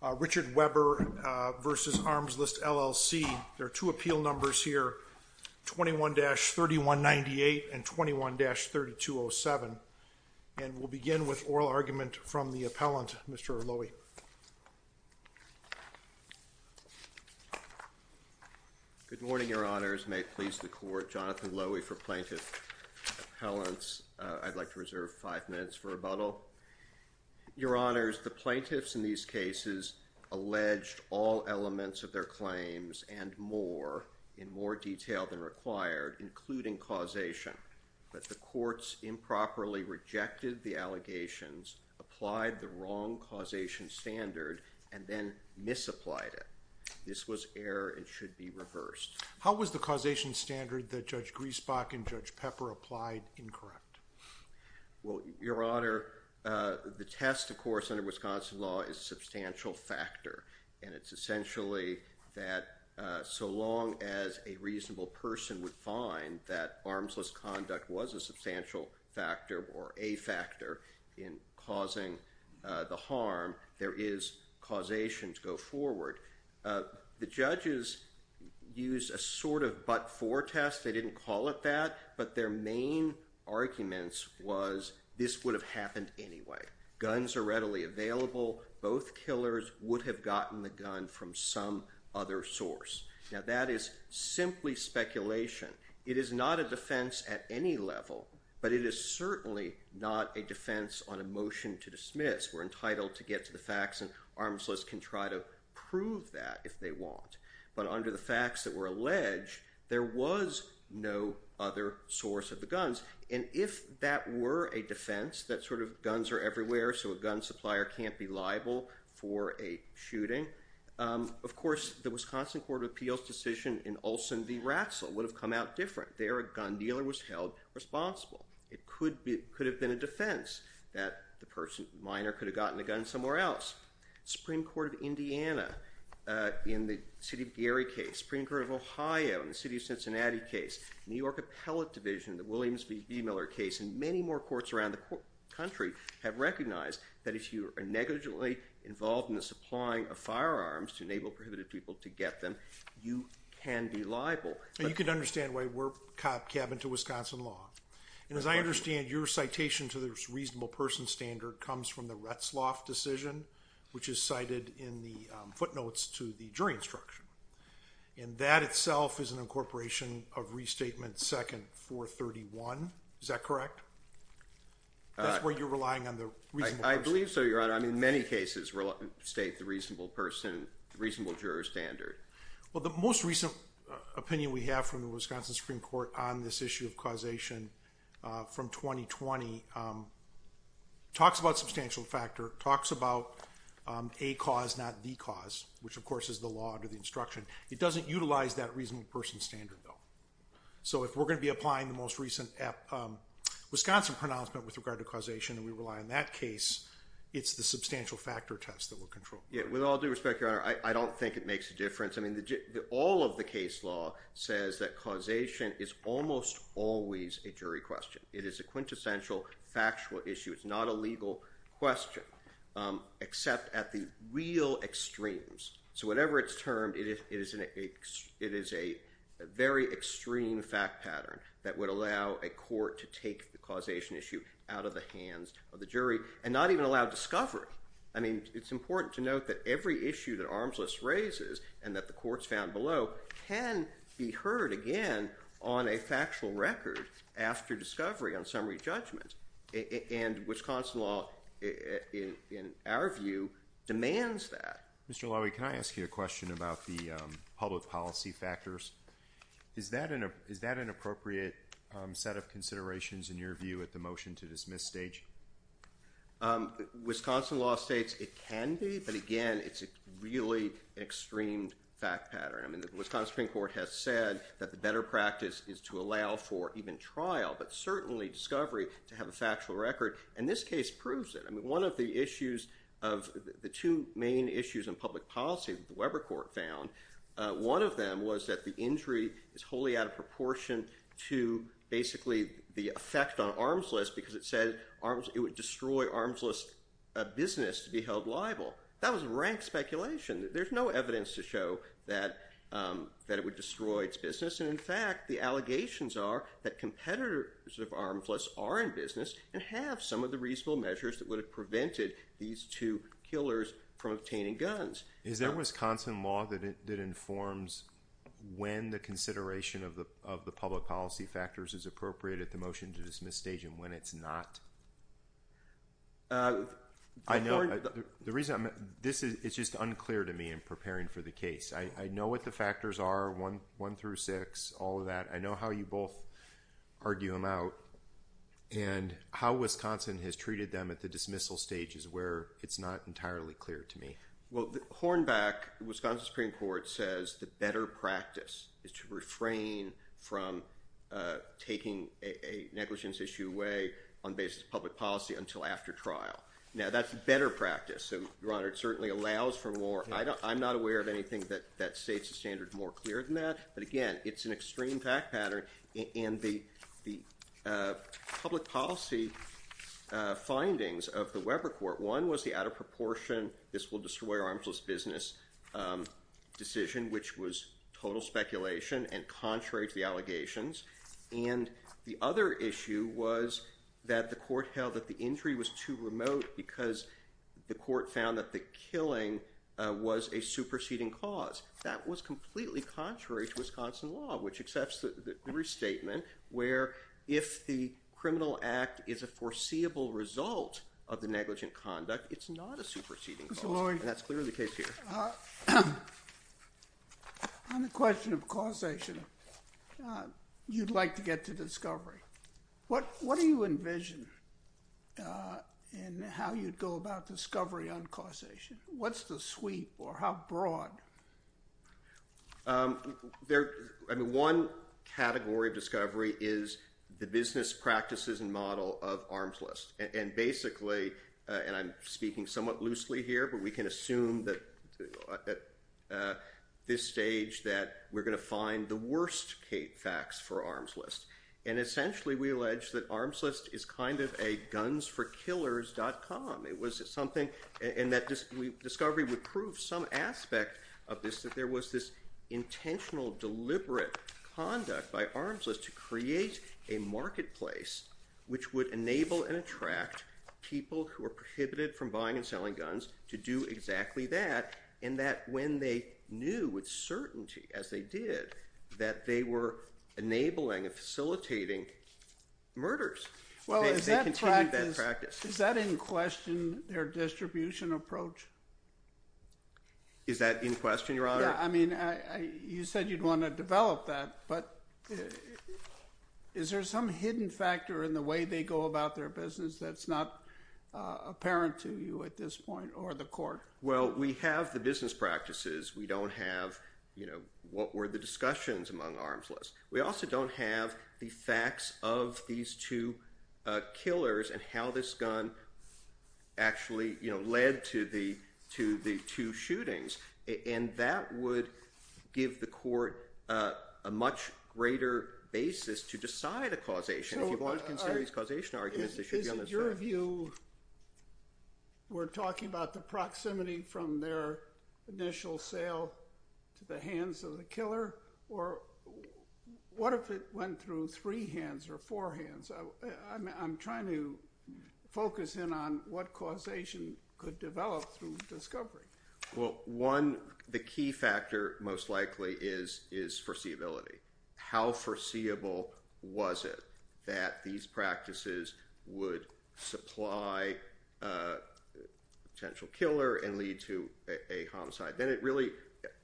There are two appeal numbers here, 21-3198 and 21-3207. And we'll begin with oral argument from the appellant, Mr. Loewy. Good morning, Your Honors. May it please the Court, Jonathan Loewy for Plaintiff Appellants. I'd like to reserve five minutes for rebuttal. Your Honors, the plaintiffs in these cases alleged all elements of their claims and more, in more detail than required, including causation. But the courts improperly rejected the allegations, applied the wrong causation standard, and then misapplied it. This was error and should be reversed. How was the causation standard that Judge Griesbach and Judge Pepper applied incorrect? Well, Your Honor, the test, of course, under Wisconsin law is a substantial factor. And it's essentially that so long as a reasonable person would find that armsless conduct was a substantial factor or a factor in causing the harm, there is causation to go forward. The judges used a sort of but-for test. They didn't call it that. But their main arguments was this would have happened anyway. Guns are readily available. Both killers would have gotten the gun from some other source. Now, that is simply speculation. It is not a defense at any level, but it is certainly not a defense on a motion to dismiss. We're entitled to get to the facts, and armsless can try to prove that if they want. But under the facts that were alleged, there was no other source of the guns. And if that were a defense, that sort of guns are everywhere, so a gun supplier can't be liable for a shooting, of course, the Wisconsin Court of Appeals decision in Olson v. Ratzel would have come out different. There, a gun dealer was held responsible. It could have been a defense that the person, minor, could have gotten the gun somewhere else. Supreme Court of Indiana in the city of Gary case, Supreme Court of Ohio in the city of Cincinnati case, New York Appellate Division, the Williams v. B. Miller case, and many more courts around the country have recognized that if you are negligently involved in the supplying of firearms to enable prohibited people to get them, you can be liable. And you can understand why we're capping to Wisconsin law. And as I understand, your citation to the reasonable person standard comes from the Retzloff decision, which is cited in the footnotes to the jury instruction. And that itself is an incorporation of Restatement Second 431. Is that correct? That's where you're relying on the reasonable person? I believe so, Your Honor. I mean, many cases state the reasonable person, reasonable juror standard. Well, the most recent opinion we have from the Wisconsin Supreme Court on this issue of causation from 2020 talks about substantial factor, talks about a cause, not the cause, which of course is the law under the instruction. It doesn't utilize that reasonable person standard, though. So if we're going to be applying the most recent Wisconsin pronouncement with regard to causation, and we rely on that case, it's the substantial factor test that we'll control. With all due respect, Your Honor, I don't think it makes a difference. I mean, all of the case law says that causation is almost always a jury question. It is a quintessential factual issue. It's not a legal question, except at the real extremes. So whatever it's termed, it is a very extreme fact pattern that would allow a court to take the causation issue out of the hands of the jury and not even allow discovery. I mean, it's important to note that every issue that Armsless raises and that the courts found below can be heard again on a factual record after discovery on summary judgment. And Wisconsin law, in our view, demands that. Mr. Laue, can I ask you a question about the public policy factors? Is that an appropriate set of considerations in your view at the motion to dismiss stage? Wisconsin law states it can be, but again, it's a really extreme fact pattern. I mean, the Wisconsin Supreme Court has said that the better practice is to allow for even trial, but certainly discovery, to have a factual record. And this case proves it. I mean, one of the issues of the two main issues in public policy that the Weber Court found, one of them was that the injury is wholly out of proportion to basically the effect on Armsless because it said it would destroy Armsless business to be held liable. That was rank speculation. There's no evidence to show that it would destroy its business. And in fact, the allegations are that competitors of Armsless are in business and have some of the reasonable measures that would have prevented these two killers from obtaining guns. Is there Wisconsin law that informs when the consideration of the public policy factors is appropriate at the motion to dismiss stage and when it's not? I know. The reason, this is just unclear to me in preparing for the case. I know what the factors are, one through six, all of that. I know how you both argue them out and how Wisconsin has treated them at the dismissal stages where it's not entirely clear to me. Well, Hornback, Wisconsin Supreme Court, says the better practice is to refrain from taking a negligence issue away on the basis of public policy until after trial. Now, that's better practice. So, Your Honor, it certainly allows for more. I'm not aware of anything that states the standard more clear than that. But again, it's an extreme fact pattern. And the public policy findings of the Weber Court, one was the out of proportion, this will destroy Armsless business decision, which was total speculation and contrary to the allegations. And the other issue was that the court held that the injury was too remote because the court found that the killing was a superseding cause. That was completely contrary to Wisconsin law, which accepts the restatement where if the criminal act is a foreseeable result of the negligent conduct, it's not a superseding cause. And that's clearly the case here. On the question of causation, you'd like to get to discovery. What do you envision in how you'd go about discovery on causation? What's the sweep or how broad? One category of discovery is the business practices and model of Armsless. And basically, and I'm speaking somewhat loosely here, but we can assume that at this stage that we're going to find the worst facts for Armsless. And essentially, we allege that Armsless is kind of a gunsforkillers.com. It was something, and that discovery would prove some aspect of this, that there was this intentional, deliberate conduct by Armsless to create a marketplace which would enable and attract people who are prohibited from buying and selling guns to do exactly that. And that when they knew with certainty, as they did, that they were enabling and facilitating murders, they continued that practice. Is that in question their distribution approach? Is that in question, Your Honor? Yeah, I mean, you said you'd want to develop that, but is there some hidden factor in the way they go about their business that's not apparent to you at this point or the court? Well, we have the business practices. We don't have what were the discussions among Armsless. We also don't have the facts of these two killers and how this gun actually led to the two shootings. And that would give the court a much greater basis to decide a causation. Is it your view we're talking about the proximity from their initial sale to the hands of the killer? Or what if it went through three hands or four hands? I'm trying to focus in on what causation could develop through discovery. Well, one, the key factor most likely is foreseeability. How foreseeable was it that these practices would supply a potential killer and lead to a homicide? Then it really,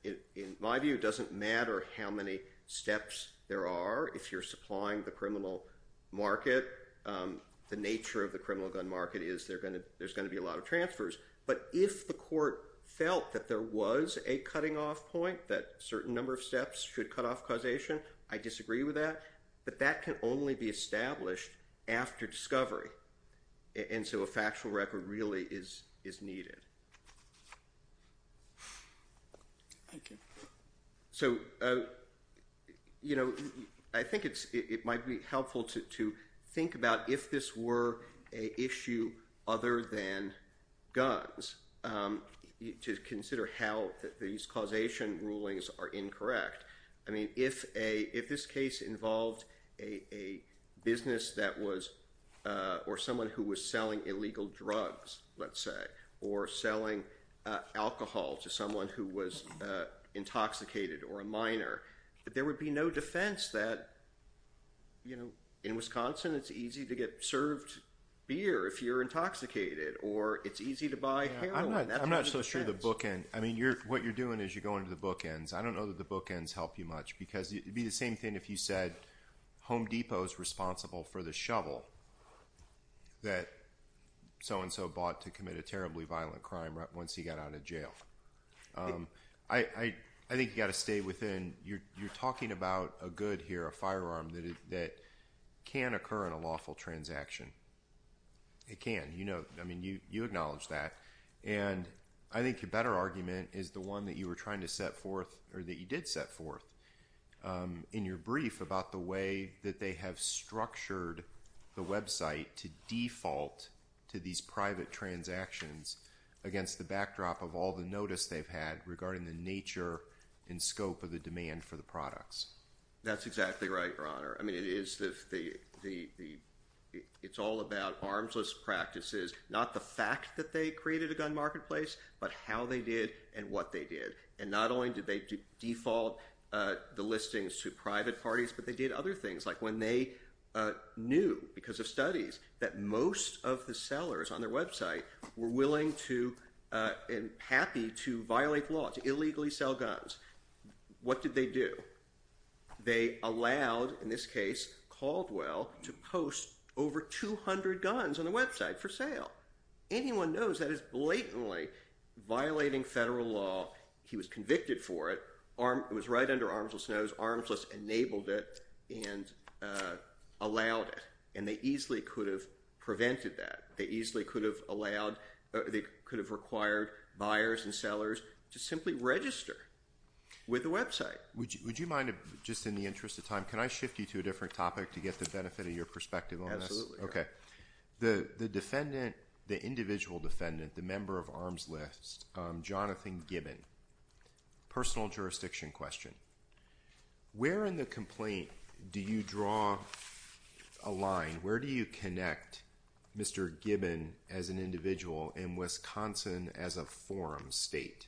in my view, doesn't matter how many steps there are. If you're supplying the criminal market, the nature of the criminal gun market is there's going to be a lot of transfers. But if the court felt that there was a cutting-off point, that a certain number of steps should cut off causation, I disagree with that. But that can only be established after discovery. And so a factual record really is needed. Thank you. So I think it might be helpful to think about if this were an issue other than guns, to consider how these causation rulings are incorrect. If this case involved a business or someone who was selling illegal drugs, let's say, or selling alcohol to someone who was intoxicated or a minor, there would be no defense that in Wisconsin it's easy to get served beer if you're intoxicated, or it's easy to buy heroin. I'm not so sure of the bookend. What you're doing is you're going to the bookends. I don't know that the bookends help you much because it would be the same thing if you said Home Depot is responsible for the shovel that so-and-so bought to commit a terribly violent crime once he got out of jail. I think you've got to stay within – you're talking about a good here, a firearm, that can occur in a lawful transaction. It can. I mean, you acknowledge that. And I think your better argument is the one that you were trying to set forth – or that you did set forth in your brief about the way that they have structured the website to default to these private transactions against the backdrop of all the notice they've had regarding the nature and scope of the demand for the products. That's exactly right, Your Honor. It's all about armsless practices, not the fact that they created a gun marketplace, but how they did and what they did. And not only did they default the listings to private parties, but they did other things. Like when they knew, because of studies, that most of the sellers on their website were willing to and happy to violate law, to illegally sell guns, what did they do? They allowed, in this case, Caldwell, to post over 200 guns on the website for sale. Anyone knows that is blatantly violating federal law. He was convicted for it. It was right under armsless' nose. Armsless enabled it and allowed it. And they easily could have prevented that. They easily could have allowed – they could have required buyers and sellers to simply register with the website. Would you mind, just in the interest of time, can I shift you to a different topic to get the benefit of your perspective on this? Absolutely. Okay. The defendant, the individual defendant, the member of Armsless, Jonathan Gibbon. Personal jurisdiction question. Where in the complaint do you draw a line? Where do you connect Mr. Gibbon as an individual and Wisconsin as a forum state?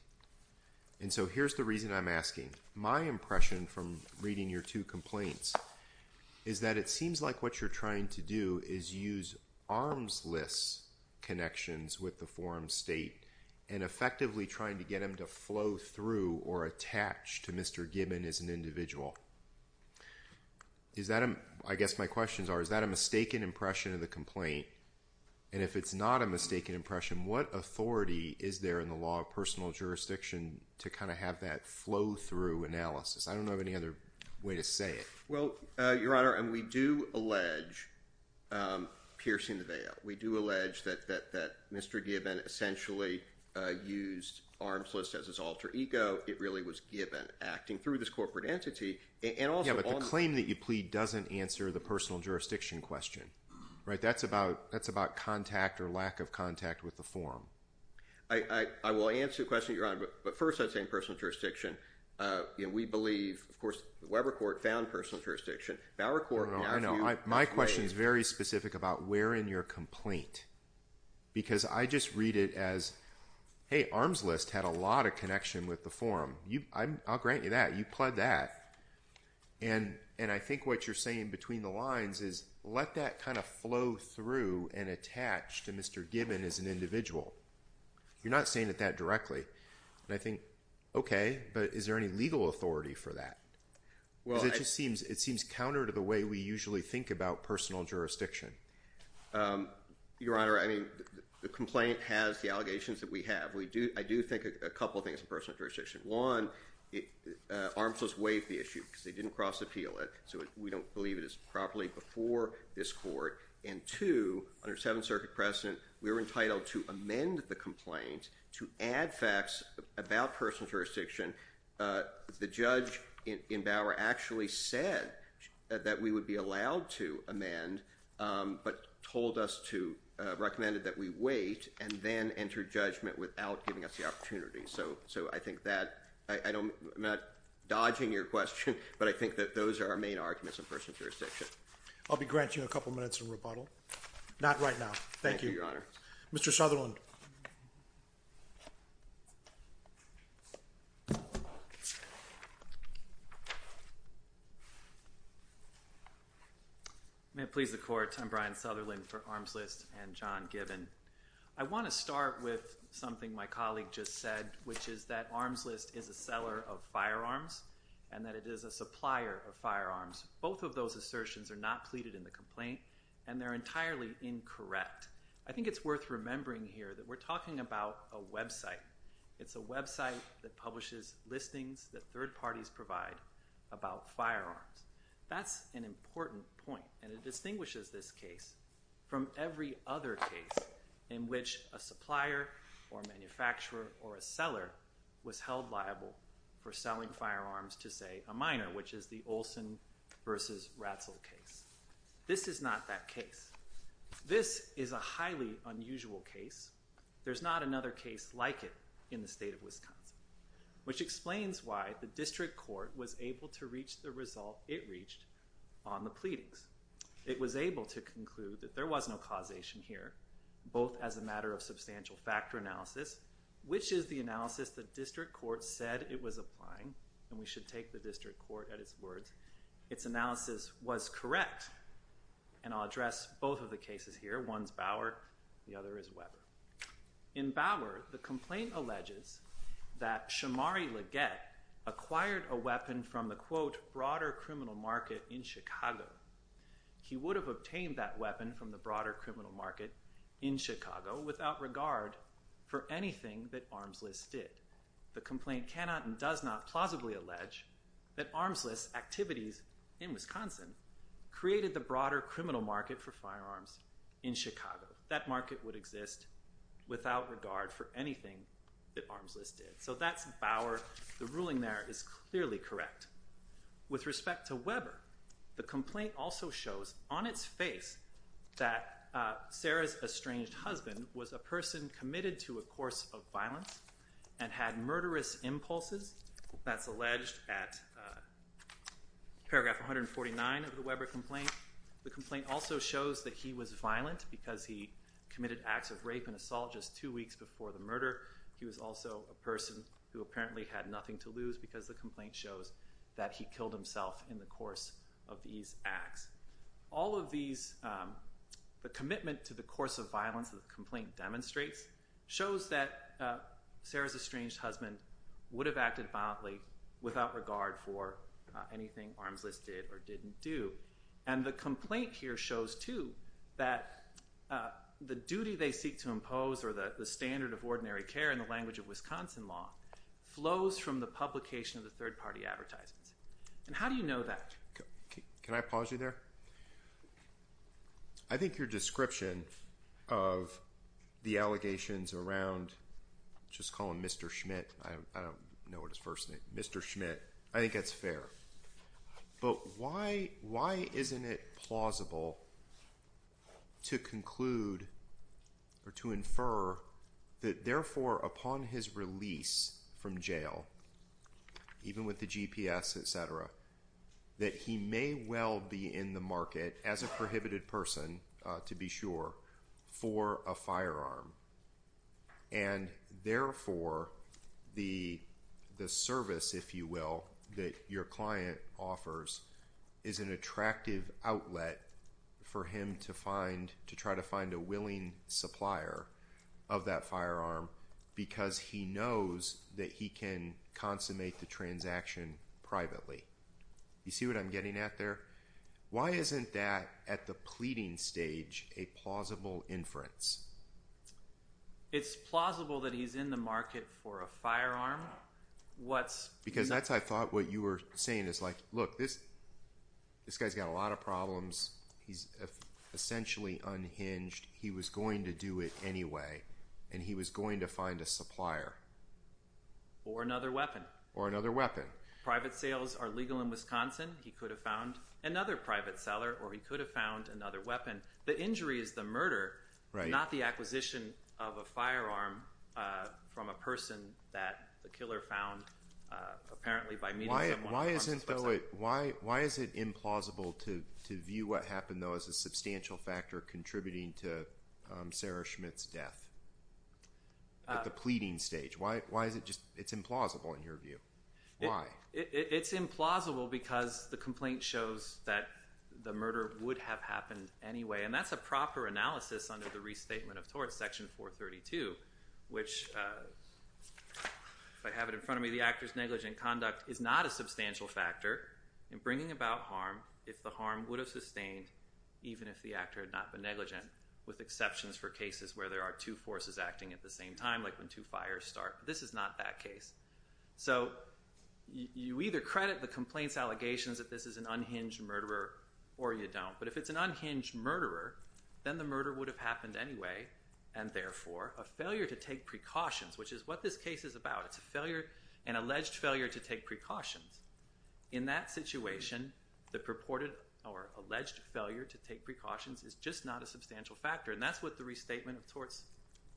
And so here's the reason I'm asking. My impression from reading your two complaints is that it seems like what you're trying to do is use armsless connections with the forum state and effectively trying to get them to flow through or attach to Mr. Gibbon as an individual. I guess my questions are, is that a mistaken impression of the complaint? And if it's not a mistaken impression, what authority is there in the law of personal jurisdiction to kind of have that flow through analysis? I don't know of any other way to say it. Well, Your Honor, and we do allege piercing the veil. We do allege that Mr. Gibbon essentially used armsless as his alter ego. It really was Gibbon acting through this corporate entity. Yeah, but the claim that you plead doesn't answer the personal jurisdiction question. That's about contact or lack of contact with the forum. I will answer the question, Your Honor, but first I'd say personal jurisdiction. We believe, of course, Weber Court found personal jurisdiction. My question is very specific about where in your complaint because I just read it as, hey, armsless had a lot of connection with the forum. I'll grant you that. You pled that. And I think what you're saying between the lines is let that kind of flow through and attach to Mr. Gibbon as an individual. You're not saying it that directly. And I think, okay, but is there any legal authority for that? Because it just seems counter to the way we usually think about personal jurisdiction. Your Honor, I mean the complaint has the allegations that we have. I do think a couple things in personal jurisdiction. One, armsless waived the issue because they didn't cross appeal it, so we don't believe it is properly before this court. And two, under Seventh Circuit precedent, we were entitled to amend the complaint to add facts about personal jurisdiction. The judge in Bauer actually said that we would be allowed to amend but told us to, recommended that we wait and then enter judgment without giving us the opportunity. So I think that, I'm not dodging your question, but I think that those are our main arguments in personal jurisdiction. I'll be granting you a couple minutes in rebuttal. Not right now. Thank you. Thank you, Your Honor. Mr. Sutherland. May it please the Court. I'm Brian Sutherland for Arms List and John Gibbon. I want to start with something my colleague just said, which is that Arms List is a seller of firearms and that it is a supplier of firearms. Both of those assertions are not pleaded in the complaint and they're entirely incorrect. I think it's worth remembering here that we're talking about a website. It's a website that publishes listings that third parties provide about firearms. That's an important point and it distinguishes this case from every other case in which a supplier or manufacturer or a seller was held liable for selling firearms to, say, a miner, which is the Olson v. Ratzel case. This is not that case. This is a highly unusual case. There's not another case like it in the state of Wisconsin, which explains why the district court was able to reach the result it reached on the pleadings. It was able to conclude that there was no causation here, both as a matter of substantial factor analysis, which is the analysis the district court said it was applying, and we should take the district court at its words, its analysis was correct. And I'll address both of the cases here. One's Bauer. The other is Weber. In Bauer, the complaint alleges that Shamari LeGette acquired a weapon from the, quote, broader criminal market in Chicago. He would have obtained that weapon from the broader criminal market in Chicago without regard for anything that Arms List did. The complaint cannot and does not plausibly allege that Arms List activities in Wisconsin created the broader criminal market for firearms in Chicago. That market would exist without regard for anything that Arms List did. So that's Bauer. The ruling there is clearly correct. With respect to Weber, the complaint also shows on its face that Sarah's estranged husband was a person committed to a course of violence and had murderous impulses. That's alleged at paragraph 149 of the Weber complaint. The complaint also shows that he was violent because he committed acts of rape and assault just two weeks before the murder. He was also a person who apparently had nothing to lose because the complaint shows that he killed himself in the course of these acts. All of these, the commitment to the course of violence that the complaint demonstrates shows that Sarah's estranged husband would have acted violently without regard for anything Arms List did or didn't do. And the complaint here shows, too, that the duty they seek to impose or the standard of ordinary care in the language of Wisconsin law flows from the publication of the third-party advertisements. And how do you know that? Can I pause you there? I think your description of the allegations around just calling Mr. Schmidt – I don't know what his first name is – Mr. Schmidt, I think that's fair. But why isn't it plausible to conclude or to infer that, therefore, upon his release from jail, even with the GPS, etc., that he may well be in the market as a prohibited person, to be sure, for a firearm? And, therefore, the service, if you will, that your client offers is an attractive outlet for him to try to find a willing supplier of that firearm because he knows that he can consummate the transaction privately. You see what I'm getting at there? Why isn't that, at the pleading stage, a plausible inference? It's plausible that he's in the market for a firearm. Because that's, I thought, what you were saying is, like, look, this guy's got a lot of problems. He's essentially unhinged. He was going to do it anyway, and he was going to find a supplier. Or another weapon. Or another weapon. Private sales are legal in Wisconsin. He could have found another private seller, or he could have found another weapon. The injury is the murder, not the acquisition of a firearm from a person that the killer found, apparently, by meeting someone. Why is it implausible to view what happened, though, as a substantial factor contributing to Sarah Schmidt's death at the pleading stage? Why is it just – it's implausible in your view. Why? It's implausible because the complaint shows that the murder would have happened anyway. And that's a proper analysis under the Restatement of Tort, Section 432, which, if I have it in front of me, the actor's negligent conduct is not a substantial factor in bringing about harm if the harm would have sustained, even if the actor had not been negligent, with exceptions for cases where there are two forces acting at the same time, like when two fires start. This is not that case. So you either credit the complaint's allegations that this is an unhinged murderer, or you don't. But if it's an unhinged murderer, then the murder would have happened anyway, and therefore, a failure to take precautions, which is what this case is about. It's a failure – an alleged failure to take precautions. In that situation, the purported or alleged failure to take precautions is just not a substantial factor. And that's what the Restatement of Tort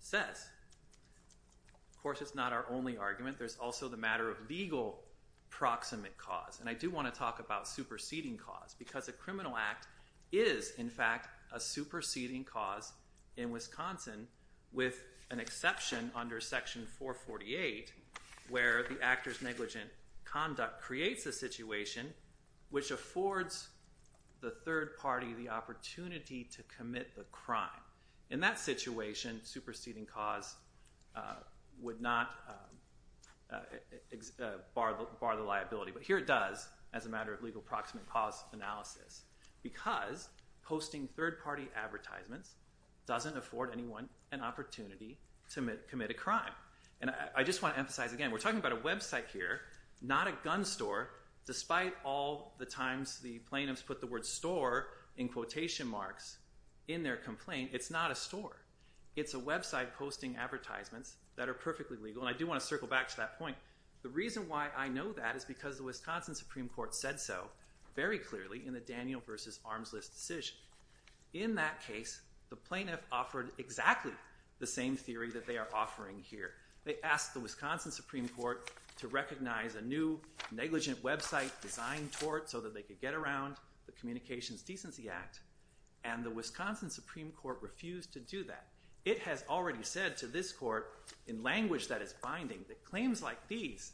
says. Of course, it's not our only argument. There's also the matter of legal proximate cause. And I do want to talk about superseding cause because a criminal act is, in fact, a superseding cause in Wisconsin with an exception under Section 448 where the actor's negligent conduct creates a situation which affords the third party the opportunity to commit the crime. In that situation, superseding cause would not bar the liability. But here it does as a matter of legal proximate cause analysis because posting third party advertisements doesn't afford anyone an opportunity to commit a crime. And I just want to emphasize again, we're talking about a website here, not a gun store. Despite all the times the plaintiffs put the word store in quotation marks in their complaint, it's not a store. It's a website posting advertisements that are perfectly legal, and I do want to circle back to that point. The reason why I know that is because the Wisconsin Supreme Court said so very clearly in the Daniel v. Arms List decision. In that case, the plaintiff offered exactly the same theory that they are offering here. They asked the Wisconsin Supreme Court to recognize a new negligent website design tort so that they could get around the Communications Decency Act, and the Wisconsin Supreme Court refused to do that. It has already said to this court, in language that is binding, that claims like these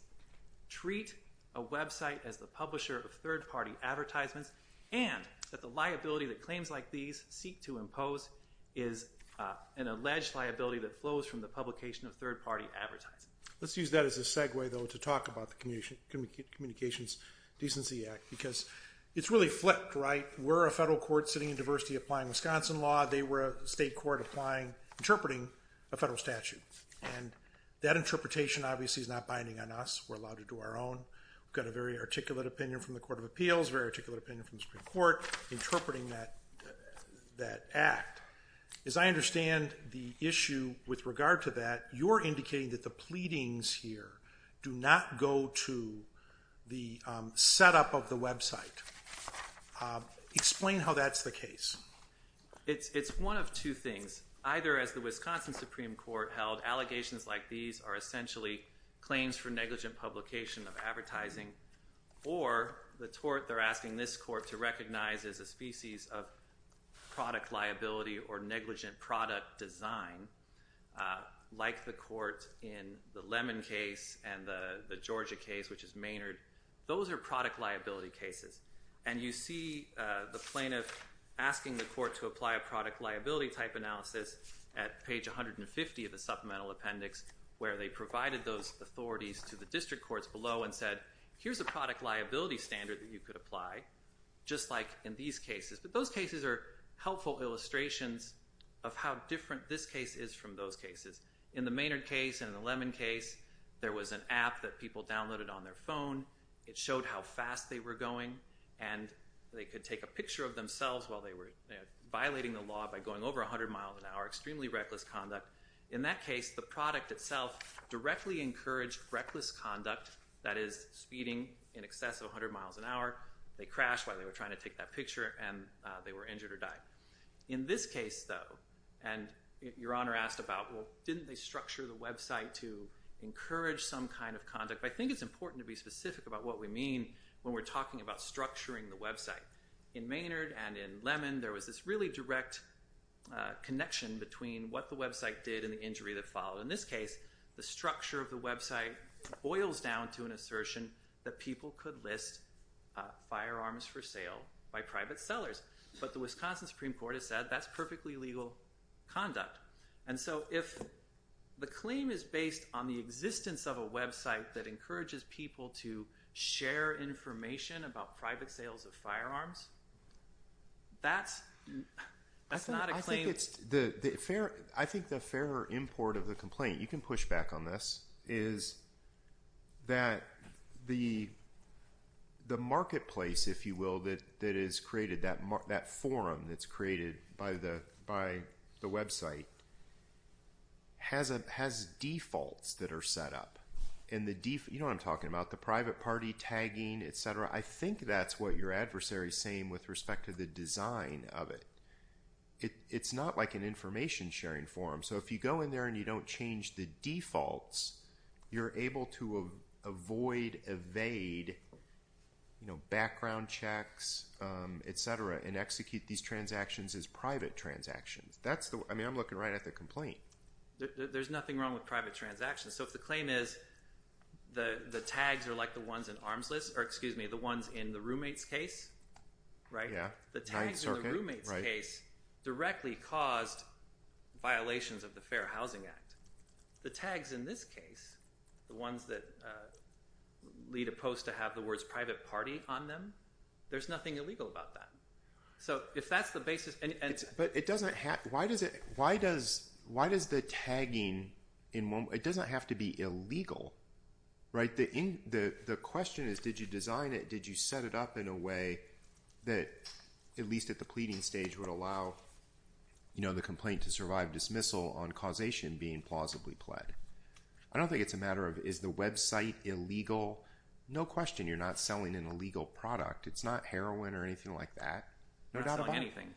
treat a website as the publisher of third party advertisements, and that the liability that claims like these seek to impose is an alleged liability that flows from the publication of third party advertising. Let's use that as a segue, though, to talk about the Communications Decency Act because it's really flipped, right? We're a federal court sitting in diversity applying Wisconsin law. They were a state court interpreting a federal statute, and that interpretation obviously is not binding on us. We're allowed to do our own. We've got a very articulate opinion from the Court of Appeals, a very articulate opinion from the Supreme Court interpreting that act. As I understand the issue with regard to that, you're indicating that the pleadings here do not go to the setup of the website. Explain how that's the case. It's one of two things. Either, as the Wisconsin Supreme Court held, allegations like these are essentially claims for negligent publication of advertising, or the tort they're asking this court to recognize as a species of product liability or negligent product design, like the court in the Lemon case and the Georgia case, which is Maynard. Those are product liability cases. And you see the plaintiff asking the court to apply a product liability type analysis at page 150 of the supplemental appendix where they provided those authorities to the district courts below and said, here's a product liability standard that you could apply, just like in these cases. But those cases are helpful illustrations of how different this case is from those cases. In the Maynard case and the Lemon case, there was an app that people downloaded on their phone. It showed how fast they were going. And they could take a picture of themselves while they were violating the law by going over 100 miles an hour, extremely reckless conduct. In that case, the product itself directly encouraged reckless conduct, that is, speeding in excess of 100 miles an hour. They crashed while they were trying to take that picture, and they were injured or died. In this case, though, and Your Honor asked about, well, didn't they structure the website to encourage some kind of conduct? I think it's important to be specific about what we mean when we're talking about structuring the website. In Maynard and in Lemon, there was this really direct connection between what the website did and the injury that followed. In this case, the structure of the website boils down to an assertion that people could list firearms for sale by private sellers. But the Wisconsin Supreme Court has said that's perfectly legal conduct. And so if the claim is based on the existence of a website that encourages people to share information about private sales of firearms, that's not a claim. I think the fairer import of the complaint, you can push back on this, is that the marketplace, if you will, that is created, that forum that's created by the website, has defaults that are set up. You know what I'm talking about, the private party tagging, et cetera. I think that's what your adversary is saying with respect to the design of it. It's not like an information sharing forum. So if you go in there and you don't change the defaults, you're able to avoid, evade background checks, et cetera, and execute these transactions as private transactions. I mean, I'm looking right at the complaint. There's nothing wrong with private transactions. So if the claim is the tags are like the ones in the roommate's case, the tags in the roommate's case directly caused violations of the Fair Housing Act. The tags in this case, the ones that lead a post to have the words private party on them, there's nothing illegal about that. But it doesn't have – why does the tagging in – it doesn't have to be illegal, right? The question is did you design it, did you set it up in a way that at least at the pleading stage would allow the complaint to survive dismissal on causation being plausibly pled. I don't think it's a matter of is the website illegal. No question you're not selling an illegal product. It's not heroin or anything like that. You're not selling anything.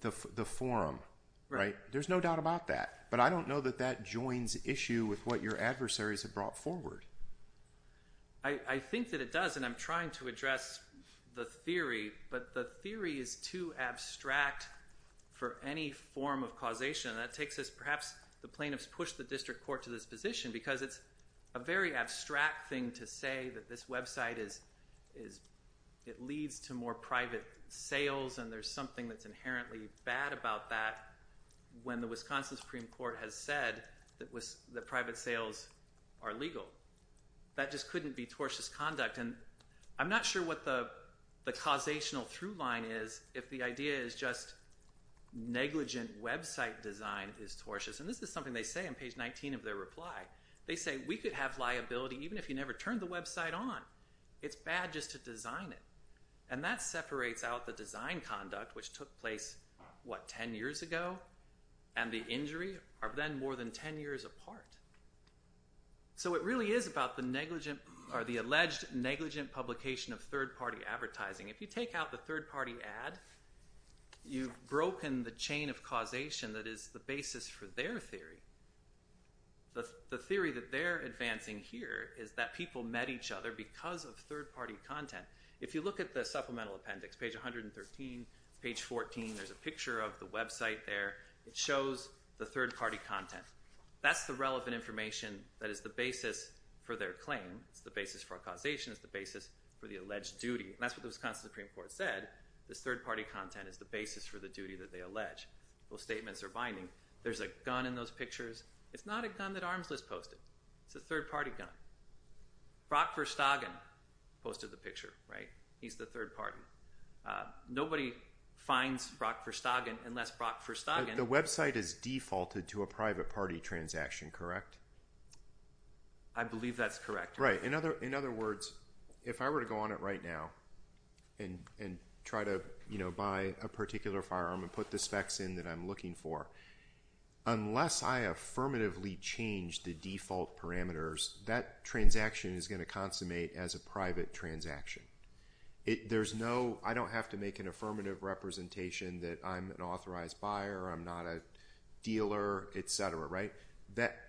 The forum, right? There's no doubt about that. But I don't know that that joins issue with what your adversaries have brought forward. I think that it does, and I'm trying to address the theory, but the theory is too abstract for any form of causation. That takes us – perhaps the plaintiffs push the district court to this position because it's a very abstract thing to say that this website is – it leads to more private sales, and there's something that's inherently bad about that when the Wisconsin Supreme Court has said that private sales are legal. That just couldn't be tortious conduct. And I'm not sure what the causational through line is if the idea is just negligent website design is tortious, and this is something they say on page 19 of their reply. They say we could have liability even if you never turned the website on. It's bad just to design it, and that separates out the design conduct, which took place, what, 10 years ago, and the injury are then more than 10 years apart. So it really is about the alleged negligent publication of third-party advertising. If you take out the third-party ad, you've broken the chain of causation that is the basis for their theory. The theory that they're advancing here is that people met each other because of third-party content. If you look at the supplemental appendix, page 113, page 14, there's a picture of the website there. It shows the third-party content. That's the relevant information that is the basis for their claim. It's the basis for causation. It's the basis for the alleged duty, and that's what the Wisconsin Supreme Court said. This third-party content is the basis for the duty that they allege. Those statements are binding. There's a gun in those pictures. It's not a gun that Arms List posted. It's a third-party gun. Brock Verstagen posted the picture, right? He's the third party. Nobody finds Brock Verstagen unless Brock Verstagen— I believe that's correct. In other words, if I were to go on it right now and try to buy a particular firearm and put the specs in that I'm looking for, unless I affirmatively change the default parameters, that transaction is going to consummate as a private transaction. I don't have to make an affirmative representation that I'm an authorized buyer, I'm not a dealer, etc., right?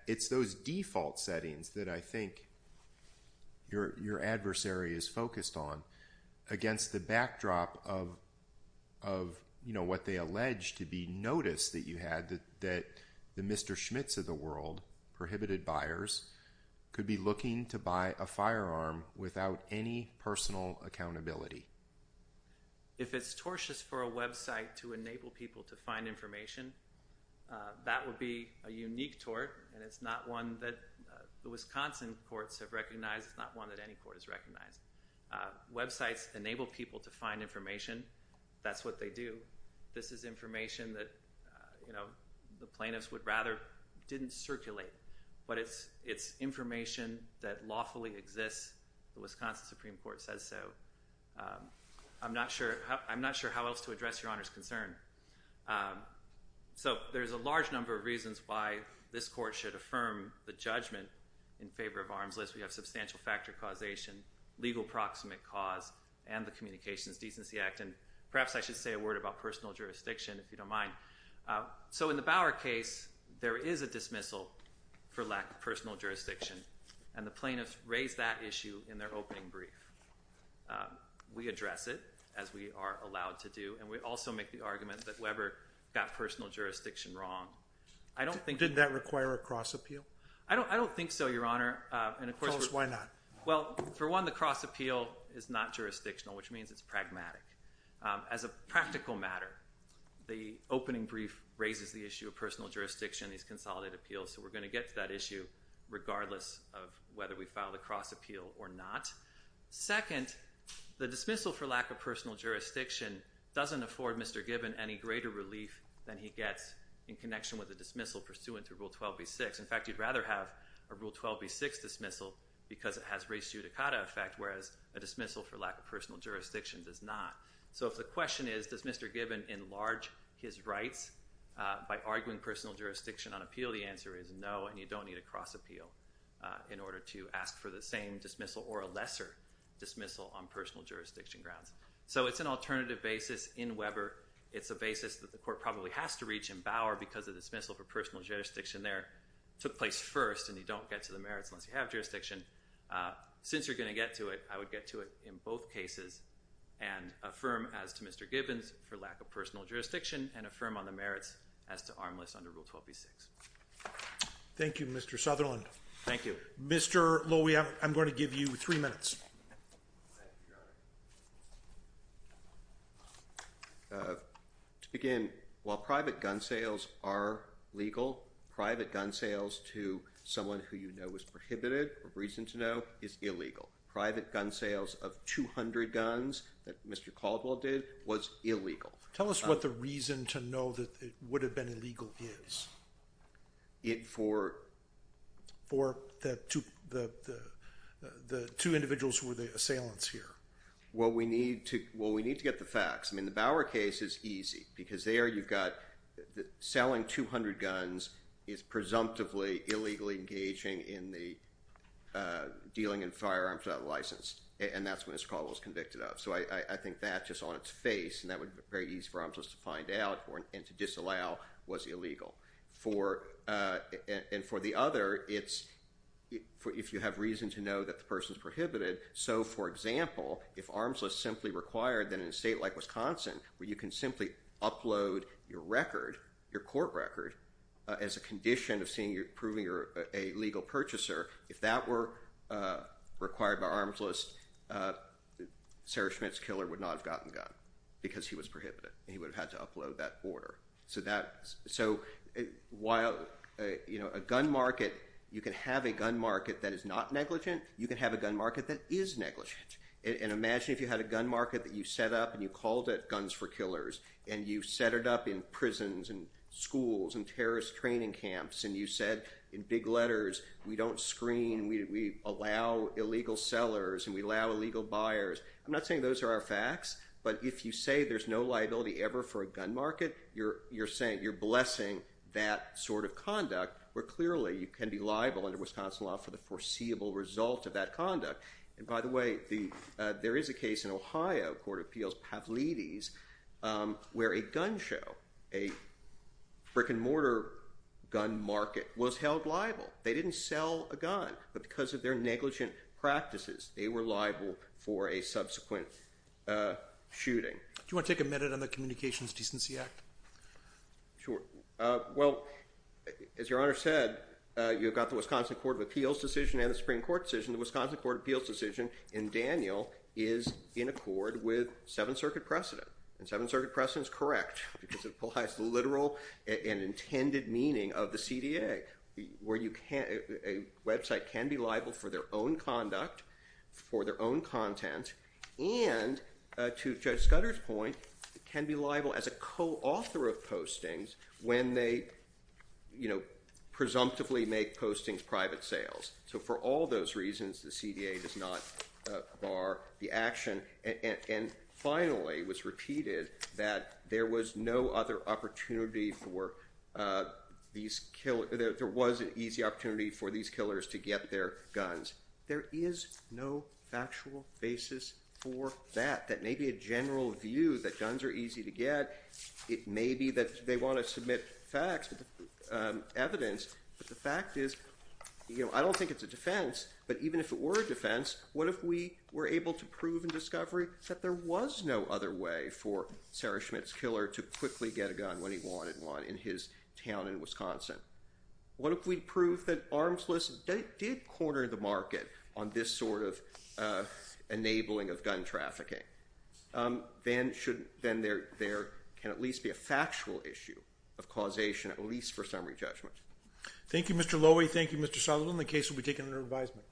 It's those default settings that I think your adversary is focused on against the backdrop of what they allege to be notice that you had, that the Mr. Schmitz of the world, prohibited buyers, could be looking to buy a firearm without any personal accountability. If it's tortious for a website to enable people to find information, that would be a unique tort, and it's not one that the Wisconsin courts have recognized. It's not one that any court has recognized. Websites enable people to find information. That's what they do. This is information that the plaintiffs would rather didn't circulate, but it's information that lawfully exists. The Wisconsin Supreme Court says so. I'm not sure how else to address your Honor's concern. So there's a large number of reasons why this court should affirm the judgment in favor of Arms List. We have substantial factor causation, legal proximate cause, and the Communications Decency Act. And perhaps I should say a word about personal jurisdiction, if you don't mind. So in the Bauer case, there is a dismissal for lack of personal jurisdiction, and the plaintiffs raised that issue in their opening brief. We address it, as we are allowed to do, and we also make the argument that Weber got personal jurisdiction wrong. I don't think— Did that require a cross appeal? I don't think so, Your Honor. Tell us why not. Well, for one, the cross appeal is not jurisdictional, which means it's pragmatic. As a practical matter, the opening brief raises the issue of personal jurisdiction in these consolidated appeals, so we're going to get to that issue regardless of whether we file the cross appeal or not. Second, the dismissal for lack of personal jurisdiction doesn't afford Mr. Gibbon any greater relief than he gets in connection with a dismissal pursuant to Rule 12b-6. In fact, you'd rather have a Rule 12b-6 dismissal because it has res judicata effect, whereas a dismissal for lack of personal jurisdiction does not. So if the question is, does Mr. Gibbon enlarge his rights by arguing personal jurisdiction on appeal, the answer is no, and you don't need a cross appeal in order to ask for the same dismissal or a lesser dismissal on personal jurisdiction grounds. So it's an alternative basis in Weber. It's a basis that the court probably has to reach in Bauer because the dismissal for personal jurisdiction there took place first, and you don't get to the merits unless you have jurisdiction. Since you're going to get to it, I would get to it in both cases and affirm as to Mr. Gibbons for lack of personal jurisdiction and affirm on the merits as to Armless under Rule 12b-6. Thank you, Mr. Sutherland. Thank you. Mr. Lowy, I'm going to give you three minutes. Thank you, Your Honor. To begin, while private gun sales are legal, private gun sales to someone who you know is prohibited or reason to know is illegal. Private gun sales of 200 guns that Mr. Caldwell did was illegal. Tell us what the reason to know that it would have been illegal is. For the two individuals who were the assailants here. Well, we need to get the facts. I mean, the Bauer case is easy because there you've got selling 200 guns is presumptively illegally engaging in the dealing in firearms without a license, and that's what Mr. Caldwell was convicted of. So I think that's just on its face, and that would be very easy for Armsless to find out and to disallow was illegal. And for the other, it's if you have reason to know that the person is prohibited. So, for example, if Armsless simply required that in a state like Wisconsin where you can simply upload your record, your court record, as a condition of proving you're a legal purchaser, if that were required by Armsless, Sarah Schmidt's killer would not have gotten a gun because he was prohibited, and he would have had to upload that order. So while a gun market, you can have a gun market that is not negligent, you can have a gun market that is negligent. And imagine if you had a gun market that you set up and you called it Guns for Killers, and you set it up in prisons and schools and terrorist training camps, and you said in big letters, we don't screen, we allow illegal sellers, and we allow illegal buyers. I'm not saying those are our facts, but if you say there's no liability ever for a gun market, you're blessing that sort of conduct where clearly you can be liable under Wisconsin law for the foreseeable result of that conduct. And by the way, there is a case in Ohio, Court of Appeals, Pavlides, where a gun show, a brick-and-mortar gun market, was held liable. They didn't sell a gun, but because of their negligent practices, they were liable for a subsequent shooting. Do you want to take a minute on the Communications Decency Act? Sure. Well, as Your Honor said, you've got the Wisconsin Court of Appeals decision and the Supreme Court decision. The Wisconsin Court of Appeals decision in Daniel is in accord with Seventh Circuit precedent, and Seventh Circuit precedent is correct because it applies the literal and intended meaning of the CDA, where a website can be liable for their own conduct, for their own content, and to Judge Scudder's point, can be liable as a co-author of postings when they presumptively make postings private sales. So for all those reasons, the CDA does not bar the action. And finally, it was repeated that there was no other opportunity for these killers to get their guns. There is no factual basis for that. That may be a general view that guns are easy to get. It may be that they want to submit facts, evidence. But the fact is, I don't think it's a defense, but even if it were a defense, what if we were able to prove in discovery that there was no other way for Sarah Schmitt's killer to quickly get a gun when he wanted one in his town in Wisconsin? What if we proved that armsless did corner the market on this sort of enabling of gun trafficking? Then there can at least be a factual issue of causation, at least for summary judgment. Thank you, Mr. Lowy. Thank you, Mr. Sullivan. The case will be taken under advisement.